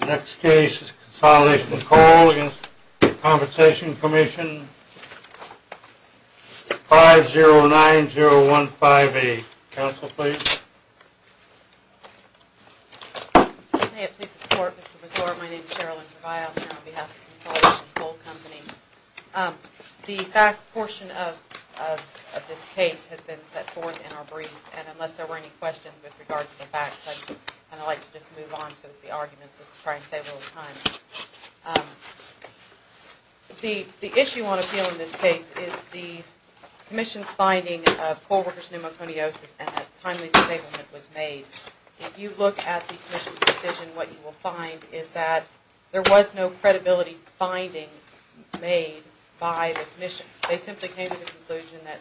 The next case is Consolidation Coal v. Workers' Compensation Comm'n 509015A. Counsel, please. May it please the Court, Mr. Brazor. My name is Sherilyn Brazor. I'm here on behalf of Consolidation Coal Company. The fact portion of this case has been set forth in our briefs, and unless there were any questions with regard to the facts, I'd like to just move on to the arguments to try and save a little time. The issue on appeal in this case is the Commission's finding of coal workers' pneumoconiosis and that timely disablement was made. If you look at the Commission's decision, what you will find is that there was no credibility finding made by the Commission. They simply came to the conclusion that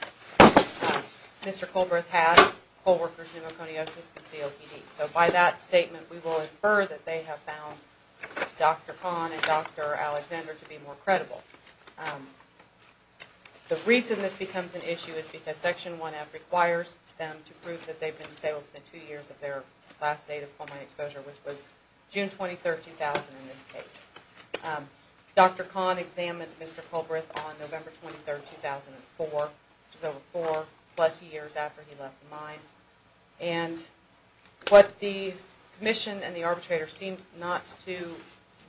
Mr. Colbreth had coal workers' pneumoconiosis and COPD. So by that statement, we will infer that they have found Dr. Kahn and Dr. Alexander to be more credible. The reason this becomes an issue is because Section 1F requires them to prove that they've been disabled for two years of their last date of coal mine exposure, which was June 23, 2000 in this case. Dr. Kahn examined Mr. Colbreth on November 23, 2004, which was over four-plus years after he left the mine. And what the Commission and the arbitrator seemed not to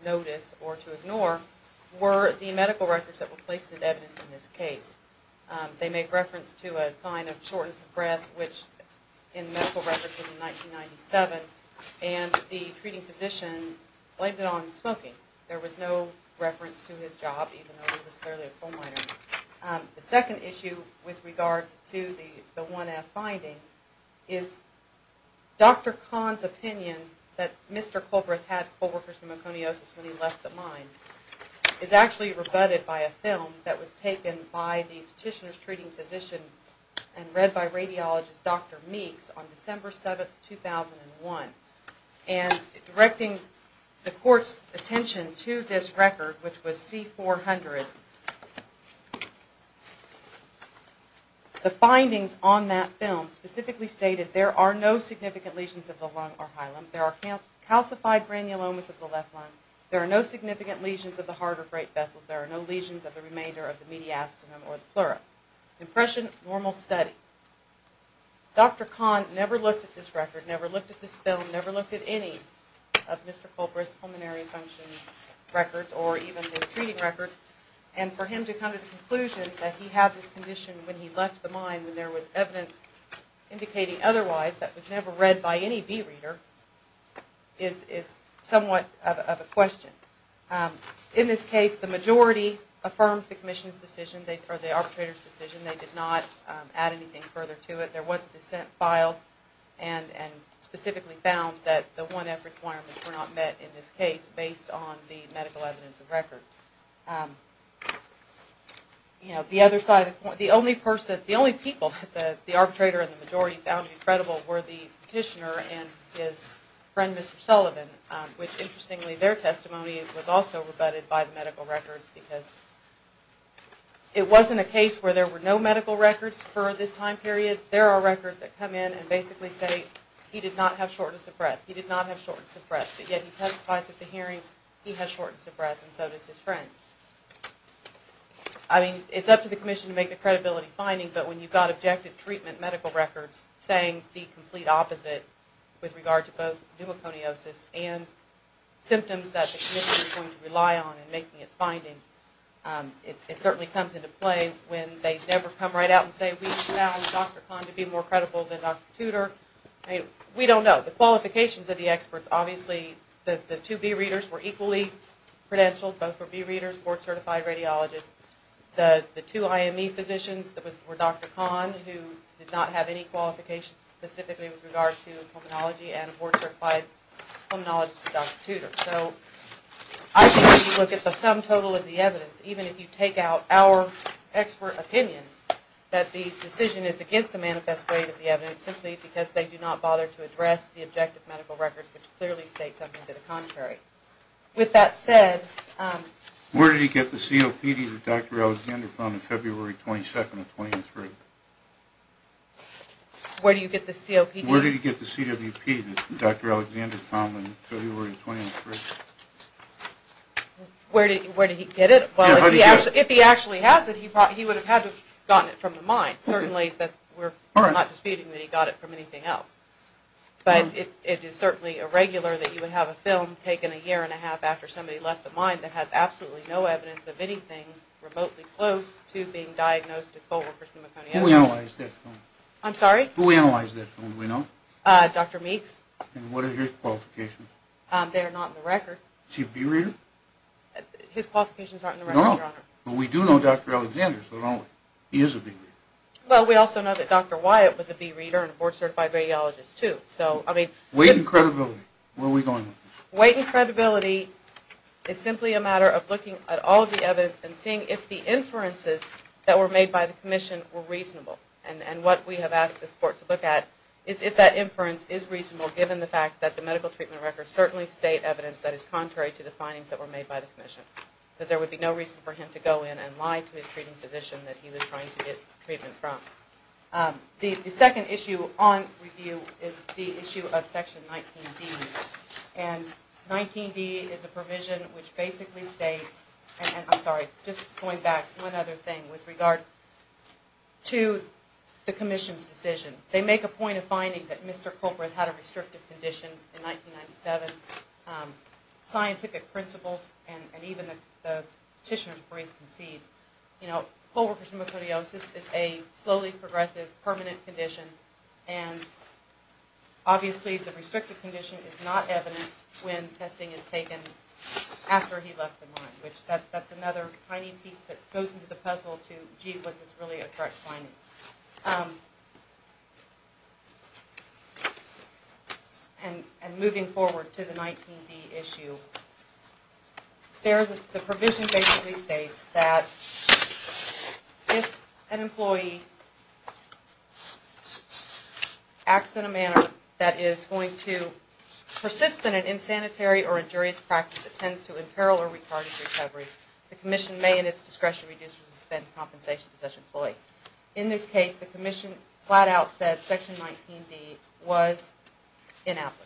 notice or to ignore were the medical records that were placed in evidence in this case. They make reference to a sign of shortness of breath, which in medical records was in 1997, and the treating physician blamed it on smoking. There was no reference to his job, even though he was clearly a coal miner. The second issue with regard to the 1F finding is Dr. Kahn's opinion that Mr. Colbreth had coal workers' pneumoconiosis when he left the mine is actually rebutted by a film that was taken by the petitioner's treating physician and read by radiologist Dr. Meeks on December 7, 2001. And directing the Court's attention to this record, which was C-400, the findings on that film specifically stated there are no significant lesions of the lung or hilum. There are calcified granulomas of the left lung. There are no significant lesions of the heart or freight vessels. There are no lesions of the remainder of the mediastinum or the pleura. Impression, normal study. Dr. Kahn never looked at this record, never looked at this film, never looked at any of Mr. Colbreth's pulmonary function records or even his treating records, and for him to come to the conclusion that he had this condition when he left the mine when there was evidence indicating otherwise that was never read by any bee reader is somewhat of a question. In this case, the majority affirmed the Arbitrator's decision. They did not add anything further to it. There was a dissent filed and specifically found that the 1F requirements were not met in this case based on the medical evidence of record. The only people that the Arbitrator and the majority found credible were the petitioner and his friend Mr. Sullivan, which interestingly their testimony was also rebutted by the medical records because it wasn't a case where there were no medical records for this time period. There are records that come in and basically say he did not have shortness of breath, he did not have shortness of breath, but yet he testified at the hearing he had shortness of breath and so did his friend. I mean, it's up to the commission to make the credibility finding, but when you've got objective treatment medical records saying the complete opposite with regard to both pneumoconiosis and symptoms that the commission is going to rely on in making its findings, it certainly comes into play when they never come right out and say we found Dr. Kahn to be more credible than Dr. Tudor. I mean, we don't know. The qualifications of the experts, obviously the two bee readers were equally credentialed, both were bee readers, board certified radiologists. The two IME physicians were Dr. Kahn who did not have any qualifications specifically with regard to pulmonology and a board certified pulmonologist was Dr. Tudor. So I think if you look at the sum total of the evidence, even if you take out our expert opinions, that the decision is against the manifest way of the evidence simply because they do not bother to address the objective medical records which clearly states something to the contrary. With that said... Where did he get the COPD that Dr. Alexander found on February 22nd of 2003? Where do you get the COPD? Where did he get the CWP that Dr. Alexander found on February 23rd? Where did he get it? If he actually has it, he would have had to have gotten it from the mine. Certainly, but we're not disputing that he got it from anything else. But it is certainly irregular that you would have a film taken a year and a half after somebody left the mine that has absolutely no evidence of anything remotely close to being diagnosed with co-workers' pneumoconiosis. Who analyzed that film? I'm sorry? Who analyzed that film? Do we know? Dr. Meeks. And what are his qualifications? They are not in the record. Is he a bee reader? His qualifications aren't in the record, Your Honor. No, no. But we do know Dr. Alexander, so don't worry. He is a bee reader. Well, we also know that Dr. Wyatt was a bee reader and a board-certified radiologist, too. So, I mean... Weight and credibility. Where are we going with this? Weight and credibility is simply a matter of looking at all of the evidence and seeing if the inferences that were made by the Commission were reasonable. And what we have asked this Court to look at is if that inference is reasonable, given the fact that the medical treatment records certainly state evidence that is contrary to the findings that were made by the Commission. Because there would be no reason for him to go in and lie to his treating physician that he was trying to get treatment from. The second issue on review is the issue of Section 19D. And 19D is a provision which basically states... I'm sorry, just going back one other thing with regard to the Commission's decision. They make a point of finding that Mr. Colbert had a restrictive condition in 1997. Scientific principles and even the petitioner's brief concedes, you know, colorectal pneumocardiosis is a slowly progressive, permanent condition, and obviously the restrictive condition is not evident when testing is taken after he left the mine. That's another tiny piece that goes into the puzzle to, gee, was this really a correct finding? And moving forward to the 19D issue, the provision basically states that if an employee acts in a manner that is going to persist in an unsanitary or injurious practice that tends to imperil or retard his recovery, the Commission may in its discretion reduce or suspend compensation to such an employee. In this case, the Commission flat out said Section 19D was inapplicable.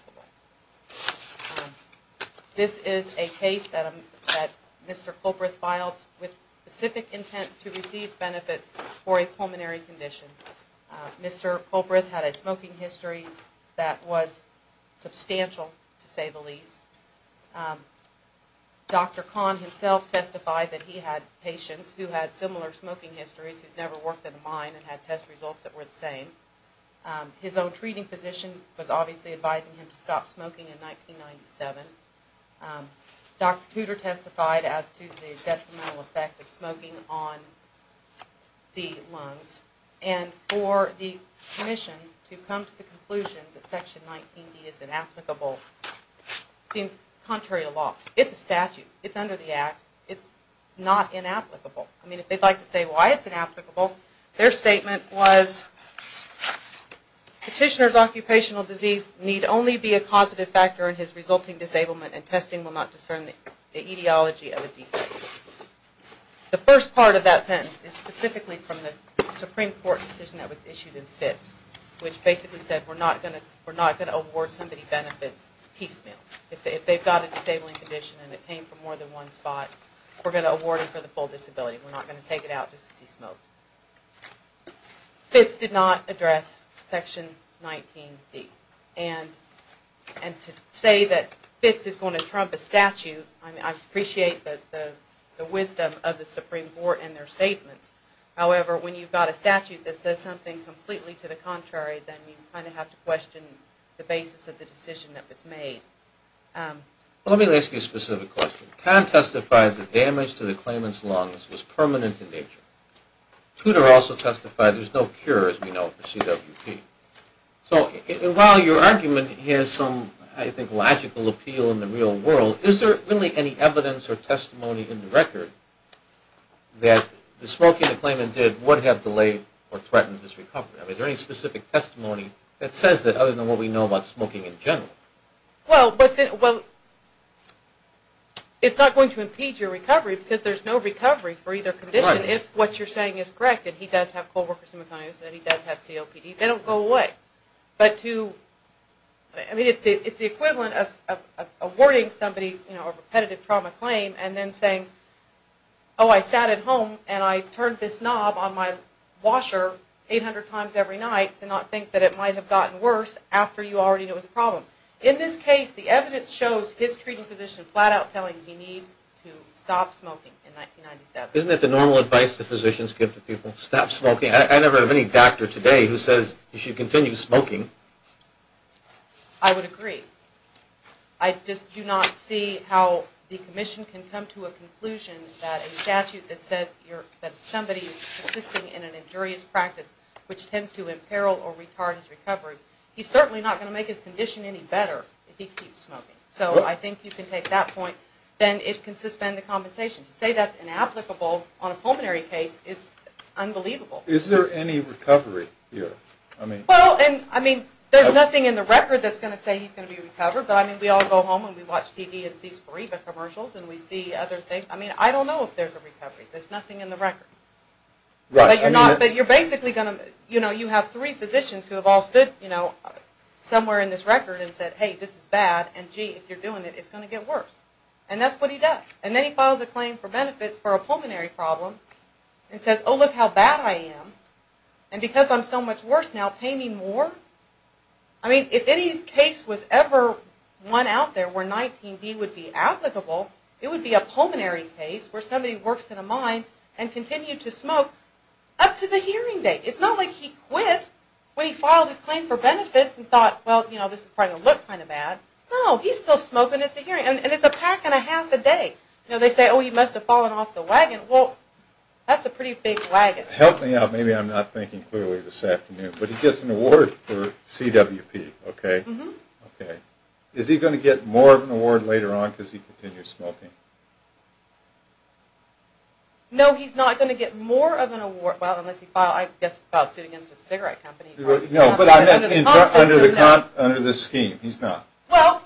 This is a case that Mr. Colbert filed with specific intent to receive benefits for a pulmonary condition. Mr. Colbert had a smoking history that was substantial, to say the least. Dr. Kahn himself testified that he had patients who had similar smoking histories who'd never worked at a mine and had test results that were the same. His own treating physician was obviously advising him to stop smoking in 1997. Dr. Tudor testified as to the detrimental effect of smoking on the lungs. And for the Commission to come to the conclusion that Section 19D is inapplicable seems contrary to law. It's a statute. It's under the Act. It's not inapplicable. I mean, if they'd like to say why it's inapplicable, their statement was, Petitioner's occupational disease need only be a causative factor in his resulting disablement and testing will not discern the etiology of a defect. The first part of that sentence is specifically from the Supreme Court decision that was issued in Fitz, which basically said we're not going to award somebody benefit piecemeal. If they've got a disabling condition and it came from more than one spot, we're going to award them for the full disability. We're not going to take it out just to see smoke. Fitz did not address Section 19D. And to say that Fitz is going to trump a statute, I appreciate the wisdom of the Supreme Court and their statements. However, when you've got a statute that says something completely to the contrary, then you kind of have to question the basis of the decision that was made. Let me ask you a specific question. Kahn testified that damage to the claimant's lungs was permanent in nature. Tudor also testified there's no cure, as we know, for CWP. So while your argument has some, I think, logical appeal in the real world, is there really any evidence or testimony in the record that the smoking the claimant did would have delayed or threatened his recovery? I mean, is there any specific testimony that says that other than what we know about smoking in general? Well, it's not going to impede your recovery because there's no recovery for either condition. If what you're saying is correct, that he does have co-workers in McConaughey, that he does have COPD, they don't go away. But to, I mean, it's the equivalent of awarding somebody a repetitive trauma claim and then saying, oh, I sat at home and I turned this knob on my washer 800 times every night to not think that it might have gotten worse after you already knew it was a problem. In this case, the evidence shows his treating physician flat out telling him he needs to stop smoking in 1997. Isn't that the normal advice that physicians give to people? Stop smoking? I never have any doctor today who says you should continue smoking. I would agree. I just do not see how the commission can come to a conclusion that a statute that says that somebody is consisting in an injurious practice which tends to imperil or retard his recovery, he's certainly not going to make his condition any better if he keeps smoking. So I think you can take that point. Then it can suspend the compensation. To say that's inapplicable on a pulmonary case is unbelievable. Is there any recovery here? Well, I mean, there's nothing in the record that's going to say he's going to be recovered. But I mean, we all go home and we watch TV and see Sporiva commercials and we see other things. I mean, I don't know if there's a recovery. There's nothing in the record. But you're basically going to, you know, you have three physicians who have all stood somewhere in this record and said, hey, this is bad, and gee, if you're doing it, it's going to get worse. And that's what he does. And then he files a claim for benefits for a pulmonary problem and says, oh, look how bad I am. And because I'm so much worse now, pay me more. I mean, if any case was ever one out there where 19D would be applicable, it would be a pulmonary case where somebody works in a mine and continued to smoke up to the hearing date. It's not like he quit when he filed his claim for benefits and thought, well, you know, this is probably going to look kind of bad. No, he's still smoking at the hearing. And it's a pack and a half a day. You know, they say, oh, he must have fallen off the wagon. Well, that's a pretty big wagon. Help me out. Maybe I'm not thinking clearly this afternoon. But he gets an award for CWP, okay? Mm-hmm. Okay. Is he going to get more of an award later on because he continues smoking? No, he's not going to get more of an award. Well, unless he filed, I guess, filed suit against a cigarette company. No, but I meant under the scheme. He's not. Well,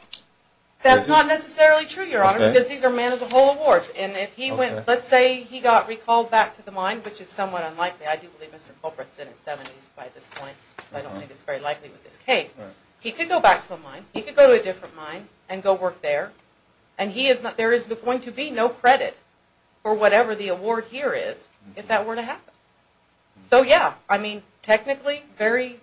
that's not necessarily true, Your Honor, because these are man-as-a-whole awards. Let's say he got recalled back to the mine, which is somewhat unlikely. I do believe Mr. Culperin is in his 70s by this point, but I don't think it's very likely with this case. He could go back to the mine. He could go to a different mine and go work there. And there is going to be no credit for whatever the award here is if that were to happen. So, yeah, I mean, technically, very,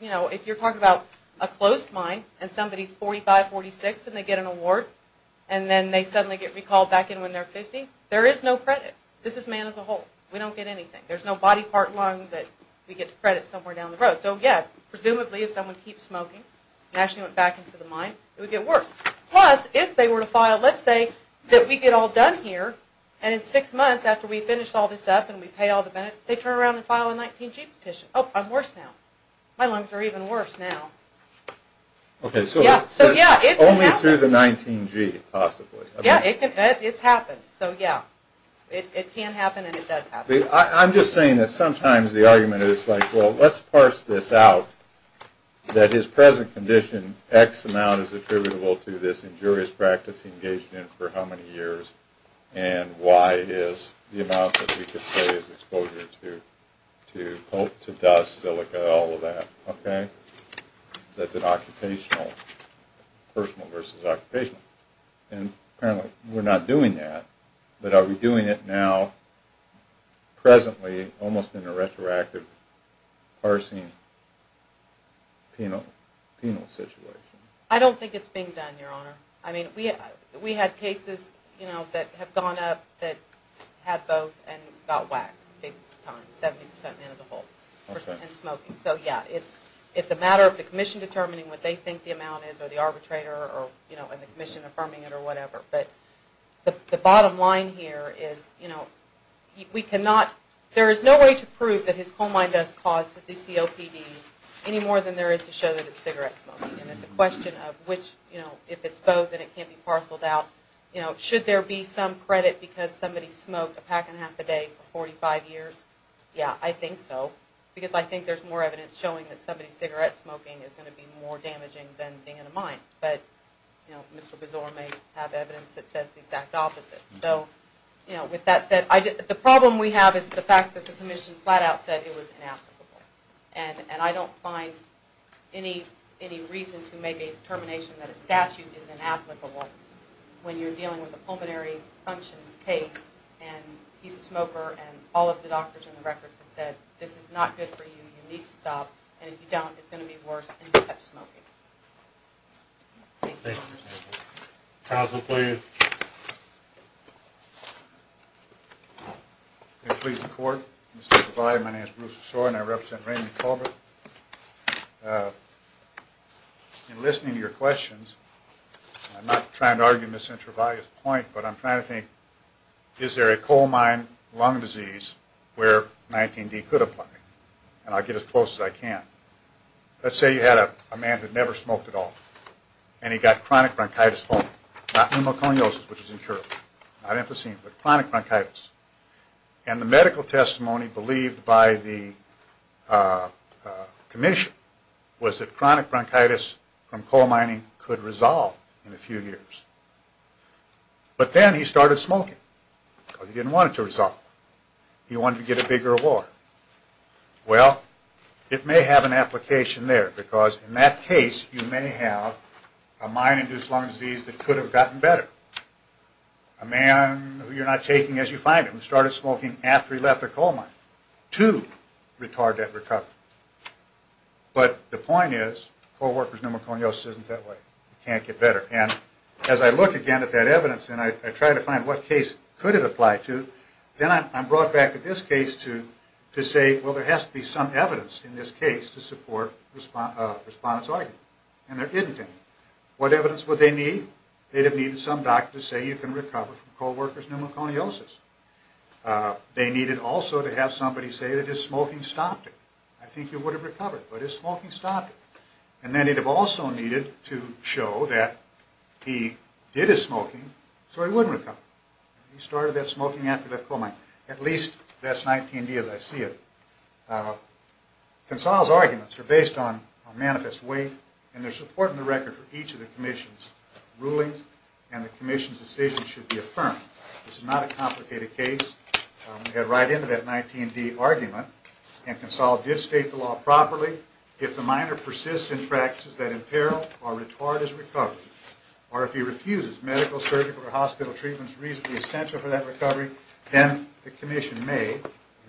you know, if you're talking about a closed mine and somebody is 45, 46, and they get an award, and then they suddenly get recalled back in when they're 50, there is no credit. This is man-as-a-whole. We don't get anything. There's no body part lung that we get to credit somewhere down the road. So, yeah, presumably if someone keeps smoking and actually went back into the mine, it would get worse. Plus, if they were to file, let's say, that we get all done here, and in six months after we finish all this up and we pay all the benefits, they turn around and file a 19G petition. Oh, I'm worse now. My lungs are even worse now. Okay, so only through the 19G, possibly. Yeah, it's happened. So, yeah, it can happen and it does happen. I'm just saying that sometimes the argument is like, well, let's parse this out, that his present condition X amount is attributable to this injurious practice he engaged in for how many years, and Y is the amount that we could say is exposure to dust, silica, all of that. Okay? That's an occupational, personal versus occupational. And apparently we're not doing that, but are we doing it now presently almost in a retroactive parsing penal situation? I don't think it's being done, Your Honor. I mean, we had cases, you know, that have gone up that had both and got whacked big time, 70% as a whole, and smoking. So, yeah, it's a matter of the commission determining what they think the amount is or the arbitrator or, you know, and the commission affirming it or whatever. But the bottom line here is, you know, we cannot – there is no way to prove that his coal mine dust caused the DCOPD any more than there is to show that it's cigarette smoking. And it's a question of which, you know, if it's both and it can't be parceled out, you know, should there be some credit because somebody smoked a pack and a half a day for 45 years? Yeah, I think so. Because I think there's more evidence showing that somebody cigarette smoking is going to be more damaging than being in a mine. But, you know, Mr. Besor may have evidence that says the exact opposite. So, you know, with that said, the problem we have is the fact that the commission flat out said it was inapplicable. And I don't find any reason to make a determination that a statute is inapplicable when you're dealing with a pulmonary function case and he's a smoker and all of the doctors in the records have said this is not good for you, you need to stop, and if you don't, it's going to be worse and you have to stop smoking. Thank you. Counsel, please. May it please the court. Mr. Trevally, my name is Bruce Besor and I represent Raymond Culbert. In listening to your questions, I'm not trying to argue Mr. Trevally's point, but I'm trying to think is there a coal mine lung disease where 19D could apply? And I'll get as close as I can. Let's say you had a man that never smoked at all and he got chronic bronchitis, not pneumoconiosis, which is incurable, not emphysema, but chronic bronchitis. And the medical testimony believed by the commission was that chronic bronchitis from coal mining could resolve in a few years. But then he started smoking because he didn't want it to resolve. He wanted to get a bigger award. Well, it may have an application there because in that case, you may have a mine-induced lung disease that could have gotten better. A man who you're not taking as you find him started smoking after he left the coal mine to retard that recovery. But the point is, coal worker's pneumoconiosis isn't that way. It can't get better. And as I look again at that evidence and I try to find what case could it apply to, then I'm brought back to this case to say, well, there has to be some evidence in this case to support the respondent's argument. And there isn't any. What evidence would they need? They'd have needed some doctor to say you can recover from coal worker's pneumoconiosis. They needed also to have somebody say that his smoking stopped it. I think he would have recovered, but his smoking stopped it. And then he'd have also needed to show that he did his smoking so he wouldn't recover. He started that smoking after he left coal mining. At least that's 19D as I see it. Consol's arguments are based on manifest weight, and there's support in the record for each of the commission's rulings, and the commission's decision should be affirmed. This is not a complicated case. We head right into that 19D argument. And Consol did state the law properly. If the miner persists in practices that imperil or retard his recovery, or if he refuses medical, surgical, or hospital treatments reasonably essential for that recovery, then the commission may, in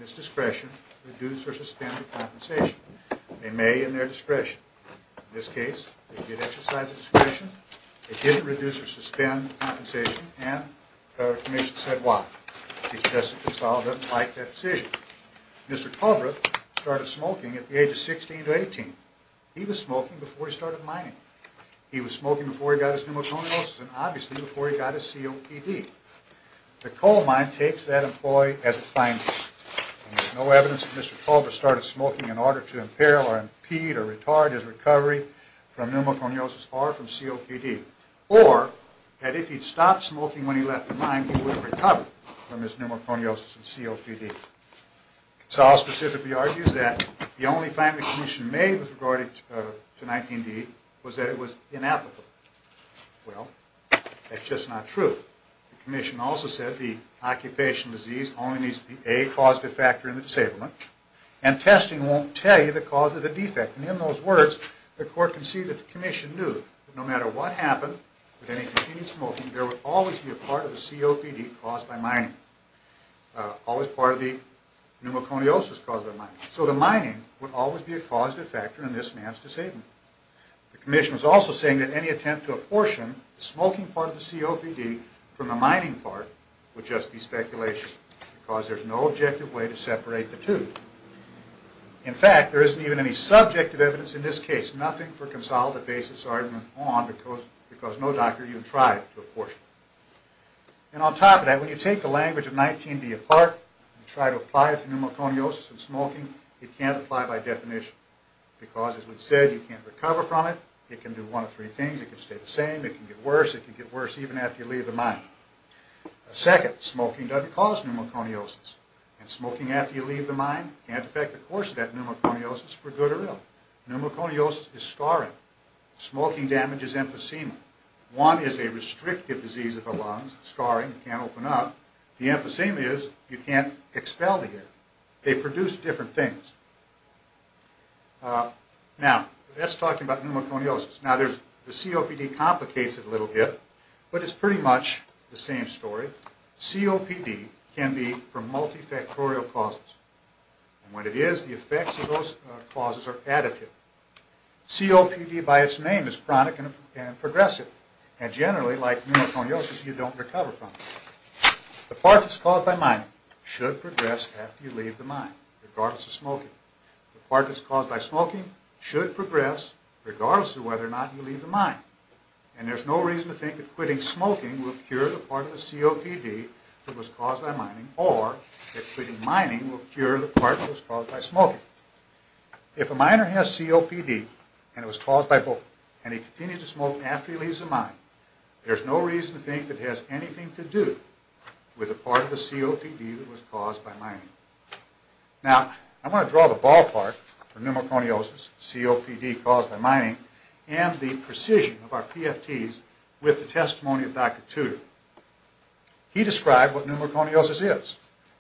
its discretion, reduce or suspend the compensation. They may in their discretion. In this case, they did exercise their discretion, they didn't reduce or suspend the compensation, and the commission said why. Consol doesn't like that decision. Mr. Culver started smoking at the age of 16 to 18. He was smoking before he started mining. He was smoking before he got his pneumoconiosis, and obviously before he got his COPD. The coal mine takes that employee as a finder. And there's no evidence that Mr. Culver started smoking in order to imperil or impede or retard his recovery from pneumoconiosis or from COPD. Or that if he'd stopped smoking when he left the mine, he would have recovered from his pneumoconiosis and COPD. Consol specifically argues that the only fine the commission made with regard to 19D was that it was inapplicable. Well, that's just not true. The commission also said the occupation disease only needs to be a causative factor in the disablement, and testing won't tell you the cause of the defect. And in those words, the court can see that the commission knew that no matter what happened with any continued smoking, there would always be a part of the COPD caused by mining, always part of the pneumoconiosis caused by mining. So the mining would always be a causative factor in this man's disablement. The commission was also saying that any attempt to apportion the smoking part of the COPD from the mining part would just be speculation because there's no objective way to separate the two. In fact, there isn't even any subjective evidence in this case, nothing for Consol to base his argument on because no doctor even tried to apportion. And on top of that, when you take the language of 19D apart and try to apply it to pneumoconiosis and smoking, it can't apply by definition because, as we said, you can't recover from it. It can do one of three things. It can stay the same. It can get worse. It can get worse even after you leave the mine. Second, smoking doesn't cause pneumoconiosis, and smoking after you leave the mine can't affect the course of that pneumoconiosis for good or ill. Pneumoconiosis is scarring. Smoking damages emphysema. One is a restrictive disease of the lungs, scarring, can't open up. The emphysema is you can't expel the air. They produce different things. Now, let's talk about pneumoconiosis. Now, the COPD complicates it a little bit, but it's pretty much the same story. COPD can be for multifactorial causes, and when it is, the effects of those causes are additive. COPD by its name is chronic and progressive, and generally, like pneumoconiosis, you don't recover from it. The part that's caused by mining should progress after you leave the mine, regardless of smoking. The part that's caused by smoking should progress regardless of whether or not you leave the mine, and there's no reason to think that quitting smoking will cure the part of the COPD that was caused by mining, or that quitting mining will cure the part that was caused by smoking. If a miner has COPD, and it was caused by both, and he continues to smoke after he leaves the mine, there's no reason to think that it has anything to do with the part of the COPD that was caused by mining. Now, I want to draw the ballpark for pneumoconiosis, COPD caused by mining, and the precision of our PFTs with the testimony of Dr. Tudor. He described what pneumoconiosis is.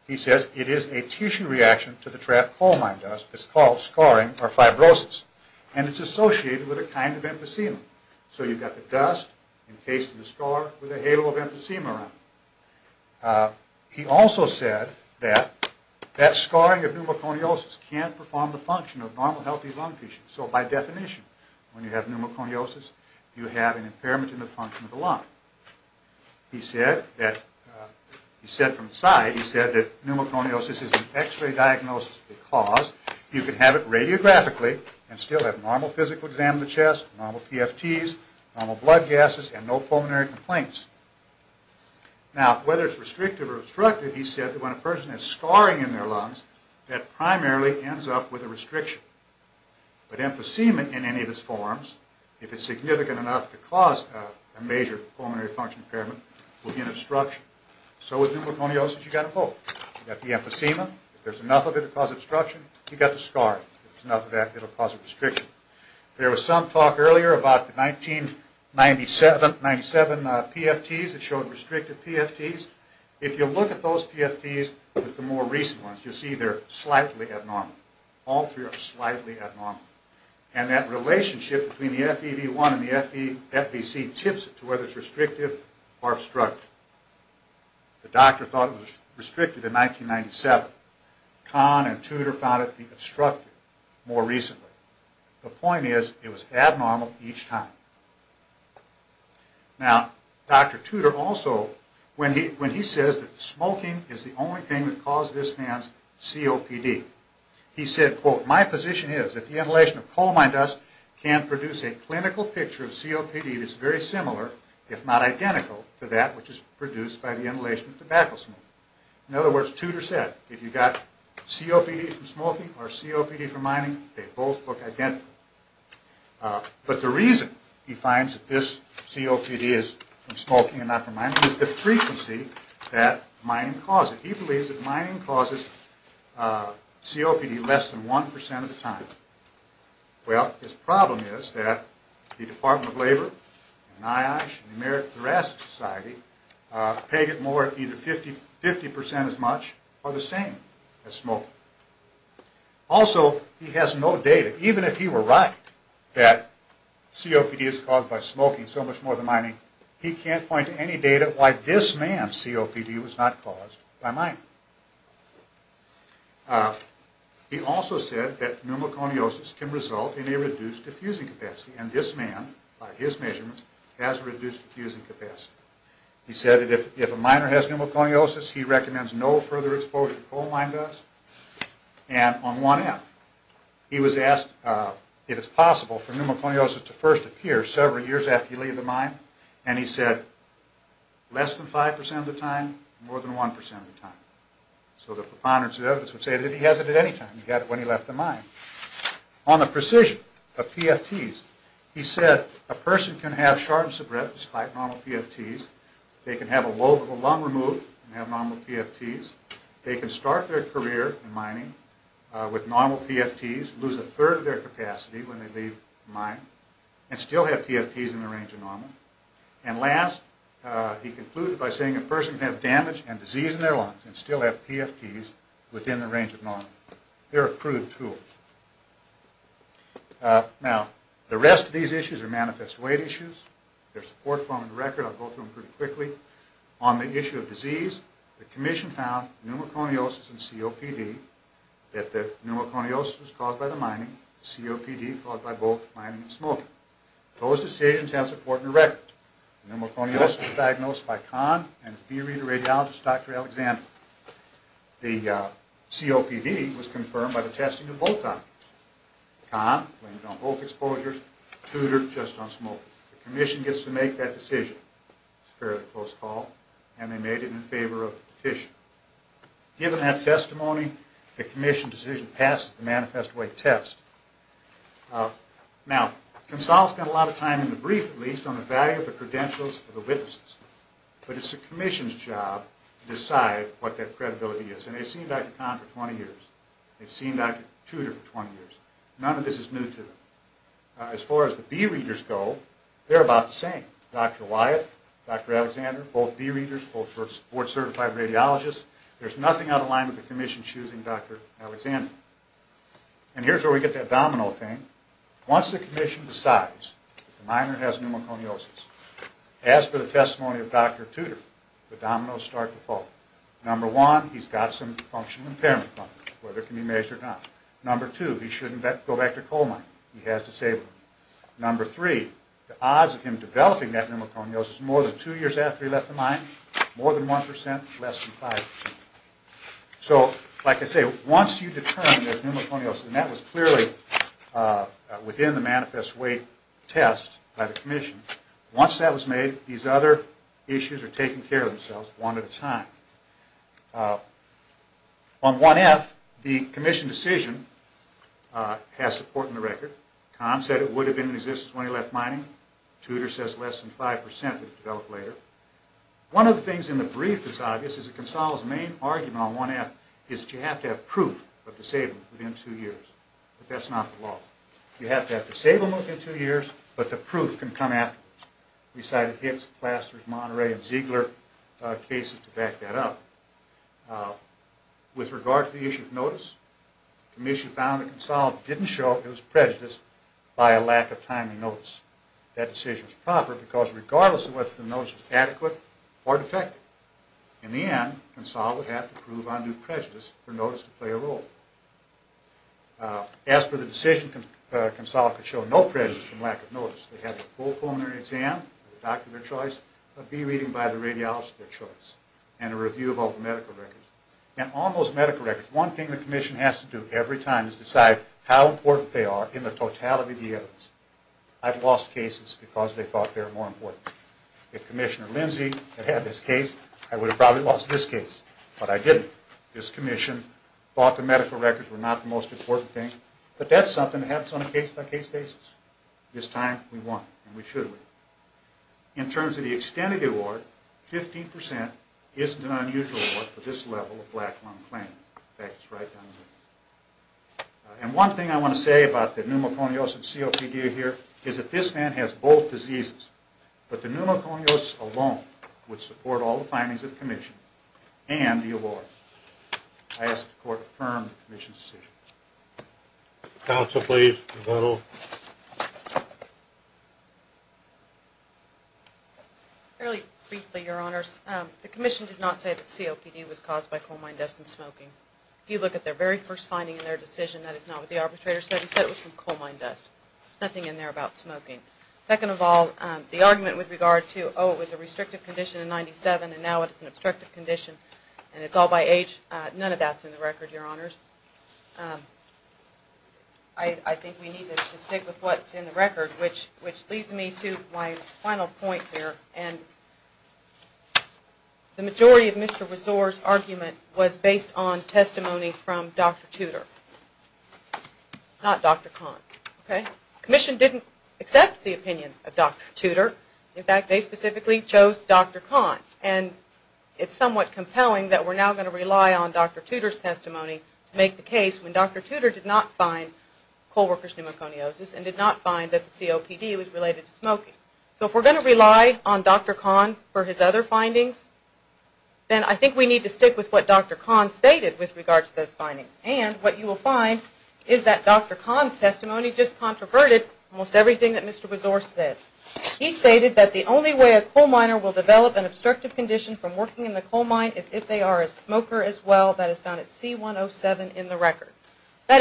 He says it is a tissue reaction to the trapped coal mine dust that's called scarring or fibrosis, and it's associated with a kind of emphysema. So you've got the dust encased in the scar with a halo of emphysema around it. He also said that that scarring of pneumoconiosis can't perform the function of normal healthy lung tissue. So by definition, when you have pneumoconiosis, you have an impairment in the function of the lung. He said from the side, he said that pneumoconiosis is an x-ray diagnosis because you can have it radiographically and still have normal physical exam of the chest, normal PFTs, normal blood gases, and no pulmonary complaints. Now, whether it's restrictive or obstructive, he said that when a person has scarring in their lungs, that primarily ends up with a restriction. But emphysema in any of its forms, if it's significant enough to cause a major pulmonary function impairment, will be an obstruction. So with pneumoconiosis, you've got to hope. You've got the emphysema. If there's enough of it to cause obstruction, you've got the scarring. If there's enough of that, it'll cause a restriction. There was some talk earlier about the 1997 PFTs that showed restrictive PFTs. If you look at those PFTs with the more recent ones, you'll see they're slightly abnormal. All three are slightly abnormal. And that relationship between the FEV1 and the FVC tips it to whether it's restrictive or obstructive. The doctor thought it was restrictive in 1997. Kahn and Tudor found it to be obstructive more recently. The point is it was abnormal each time. Now, Dr. Tudor also, when he says that smoking is the only thing that caused this man's COPD, he said, quote, My position is that the inhalation of coal mine dust can produce a clinical picture of COPD that's very similar, if not identical, to that which is produced by the inhalation of tobacco smoke. In other words, Tudor said, if you've got COPD from smoking or COPD from mining, they both look identical. But the reason he finds that this COPD is from smoking and not from mining is the frequency that mining causes it. He believes that mining causes COPD less than 1% of the time. Well, his problem is that the Department of Labor and NIOSH and the American Thoracic Society peg it more at either 50% as much or the same as smoking. Also, he has no data. Even if he were right that COPD is caused by smoking so much more than mining, he can't point to any data why this man's COPD was not caused by mining. He also said that pneumoconiosis can result in a reduced diffusing capacity, and this man, by his measurements, has a reduced diffusing capacity. He said that if a miner has pneumoconiosis, he recommends no further exposure to coal mine dust. And on 1F, he was asked if it's possible for pneumoconiosis to first appear several years after you leave the mine, and he said, less than 5% of the time, more than 1% of the time. So the preponderance of evidence would say that if he has it at any time, he got it when he left the mine. On the precision of PFTs, he said a person can have sharpness of breath despite normal PFTs. They can have a lobe of the lung removed and have normal PFTs. They can start their career in mining with normal PFTs, lose a third of their capacity when they leave the mine, and still have PFTs in the range of normal. And last, he concluded by saying a person can have damage and disease in their lungs They're a prudent tool. Now, the rest of these issues are manifest weight issues. There's support for them in the record. I'll go through them pretty quickly. On the issue of disease, the commission found pneumoconiosis and COPD, that the pneumoconiosis was caused by the mining, COPD caused by both mining and smoking. Those decisions have support in the record. Pneumoconiosis was diagnosed by Kahn and his bee reader radiologist, Dr. Alexander. The COPD was confirmed by the testing of both options. Kahn went on both exposures, Tudor just on smoking. The commission gets to make that decision. It's a fairly close call, and they made it in favor of the petition. Given that testimony, the commission decision passes the manifest weight test. Now, Consal has spent a lot of time in the brief, at least, on the value of the credentials of the witnesses. But it's the commission's job to decide what that credibility is. And they've seen Dr. Kahn for 20 years. They've seen Dr. Tudor for 20 years. None of this is new to them. As far as the bee readers go, they're about the same. Dr. Wyatt, Dr. Alexander, both bee readers, both board-certified radiologists. There's nothing out of line with the commission choosing Dr. Alexander. And here's where we get that domino thing. Once the commission decides that the miner has pneumoconiosis, as per the testimony of Dr. Tudor, the dominoes start to fall. Number one, he's got some functional impairment problems, whether it can be measured or not. Number two, he shouldn't go back to coal mining. He has to save money. Number three, the odds of him developing that pneumoconiosis more than two years after he left the mine, more than 1%, less than 5%. So, like I say, once you determine there's pneumoconiosis, and that was clearly within the manifest weight test by the commission, once that was made, these other issues are taking care of themselves one at a time. On 1F, the commission decision has support in the record. Tom said it would have been in existence when he left mining. Tudor says less than 5% would have developed later. One of the things in the brief that's obvious is that Gonzalo's main argument on 1F is that you have to have proof of disablement within two years. But that's not the law. You have to have disablement within two years, but the proof can come afterwards. We cited Hicks, Plasters, Monterey, and Ziegler cases to back that up. With regard to the issue of notice, the commission found that Gonzalo didn't show it was prejudiced by a lack of timely notice. That decision was proper because regardless of whether the notice was adequate or defective, in the end, Gonzalo would have to prove undue prejudice for notice to play a role. As for the decision, Gonzalo could show no prejudice from lack of notice. They had a full pulmonary exam, a doctor of their choice, a B reading by the radiologist of their choice, and a review of all the medical records. And on those medical records, one thing the commission has to do every time is decide how important they are in the totality of the evidence. I've lost cases because they thought they were more important. If Commissioner Lindsey had had this case, I would have probably lost this case, but I didn't. This commission thought the medical records were not the most important thing, but that's something that happens on a case-by-case basis. This time, we won, and we should win. In terms of the extent of the award, 15% isn't an unusual award for this level of black lung claim. In fact, it's right down here. And one thing I want to say about the pneumoconiosis and COPD here is that this man has both diseases, but the pneumoconiosis alone would support all the findings of the commission and the award. I ask the court to confirm the commission's decision. Counsel, please, Gonzalo. Fairly briefly, Your Honors. The commission did not say that COPD was caused by coal mine dust and smoking. If you look at their very first finding in their decision, that is not what the arbitrator said. He said it was from coal mine dust. There's nothing in there about smoking. Second of all, the argument with regard to, oh, it was a restrictive condition in 1997, and now it's an obstructive condition, and it's all by age, none of that's in the record, Your Honors. I think we need to stick with what's in the record, which leads me to my final point here. And the majority of Mr. Rezor's argument was based on testimony from Dr. Tudor, not Dr. Kahn. The commission didn't accept the opinion of Dr. Tudor. In fact, they specifically chose Dr. Kahn. And it's somewhat compelling that we're now going to rely on Dr. Tudor's testimony to make the case when Dr. Tudor did not find coal workers' pneumoconiosis and did not find that the COPD was related to smoking. So if we're going to rely on Dr. Kahn for his other findings, then I think we need to stick with what Dr. Kahn stated with regard to those findings. And what you will find is that Dr. Kahn's testimony just controverted almost everything that Mr. Rezor said. He stated that the only way a coal miner will develop an obstructive condition from working in the coal mine is if they are a smoker as well. That is found at C107 in the record. He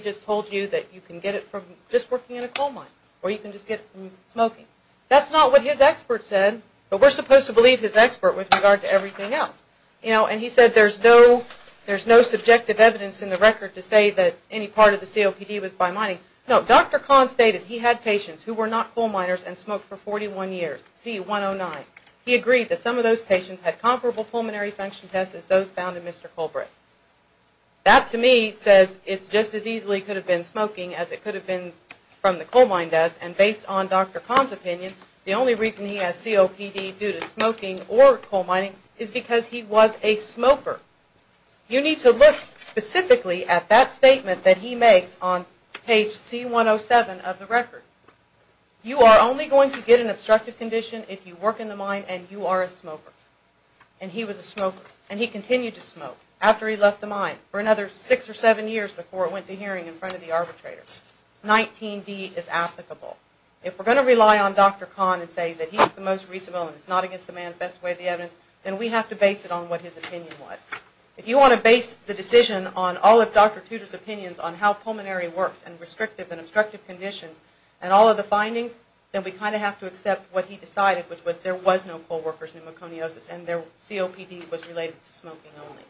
just told you that you can get it from just working in a coal mine. Or you can just get it from smoking. That's not what his expert said. But we're supposed to believe his expert with regard to everything else. And he said there's no subjective evidence in the record to say that any part of the COPD was by mining. No, Dr. Kahn stated he had patients who were not coal miners and smoked for 41 years, C109. He agreed that some of those patients had comparable pulmonary function tests as those found in Mr. Colbert. That to me says it just as easily could have been smoking as it could have been from the coal mine dust. And based on Dr. Kahn's opinion, the only reason he has COPD due to smoking or coal mining is because he was a smoker. You need to look specifically at that statement that he makes on page C107 of the record. You are only going to get an obstructive condition if you work in the mine and you are a smoker. And he was a smoker. And he continued to smoke after he left the mine for another six or seven years before it went to hearing in front of the arbitrators. 19D is applicable. If we're going to rely on Dr. Kahn and say that he's the most reasonable and it's not against the man's best way of the evidence, then we have to base it on what his opinion was. If you want to base the decision on all of Dr. Tudor's opinions on how pulmonary works and restrictive and obstructive conditions and all of the findings, then we kind of have to accept what he decided, which was there was no coal workers pneumoconiosis and COPD was related to smoking only.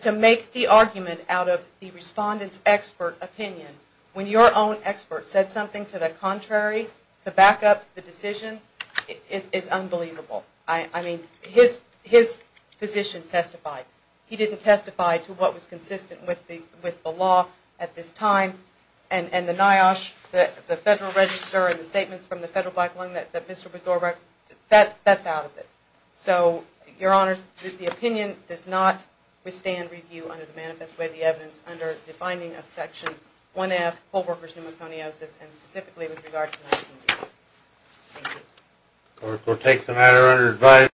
To make the argument out of the respondent's expert opinion, when your own expert said something to the contrary, to back up the decision, is unbelievable. I mean, his physician testified. He didn't testify to what was consistent with the law at this time. And the NIOSH, the Federal Register and the statements from the Federal Black Lung that Mr. Besor wrote, that's out of it. So, Your Honors, the opinion does not withstand review under the manifest way of the evidence under the finding of Section 1F, coal workers pneumoconiosis, and specifically with regard to 19D. Thank you. We'll take the matter under advisory.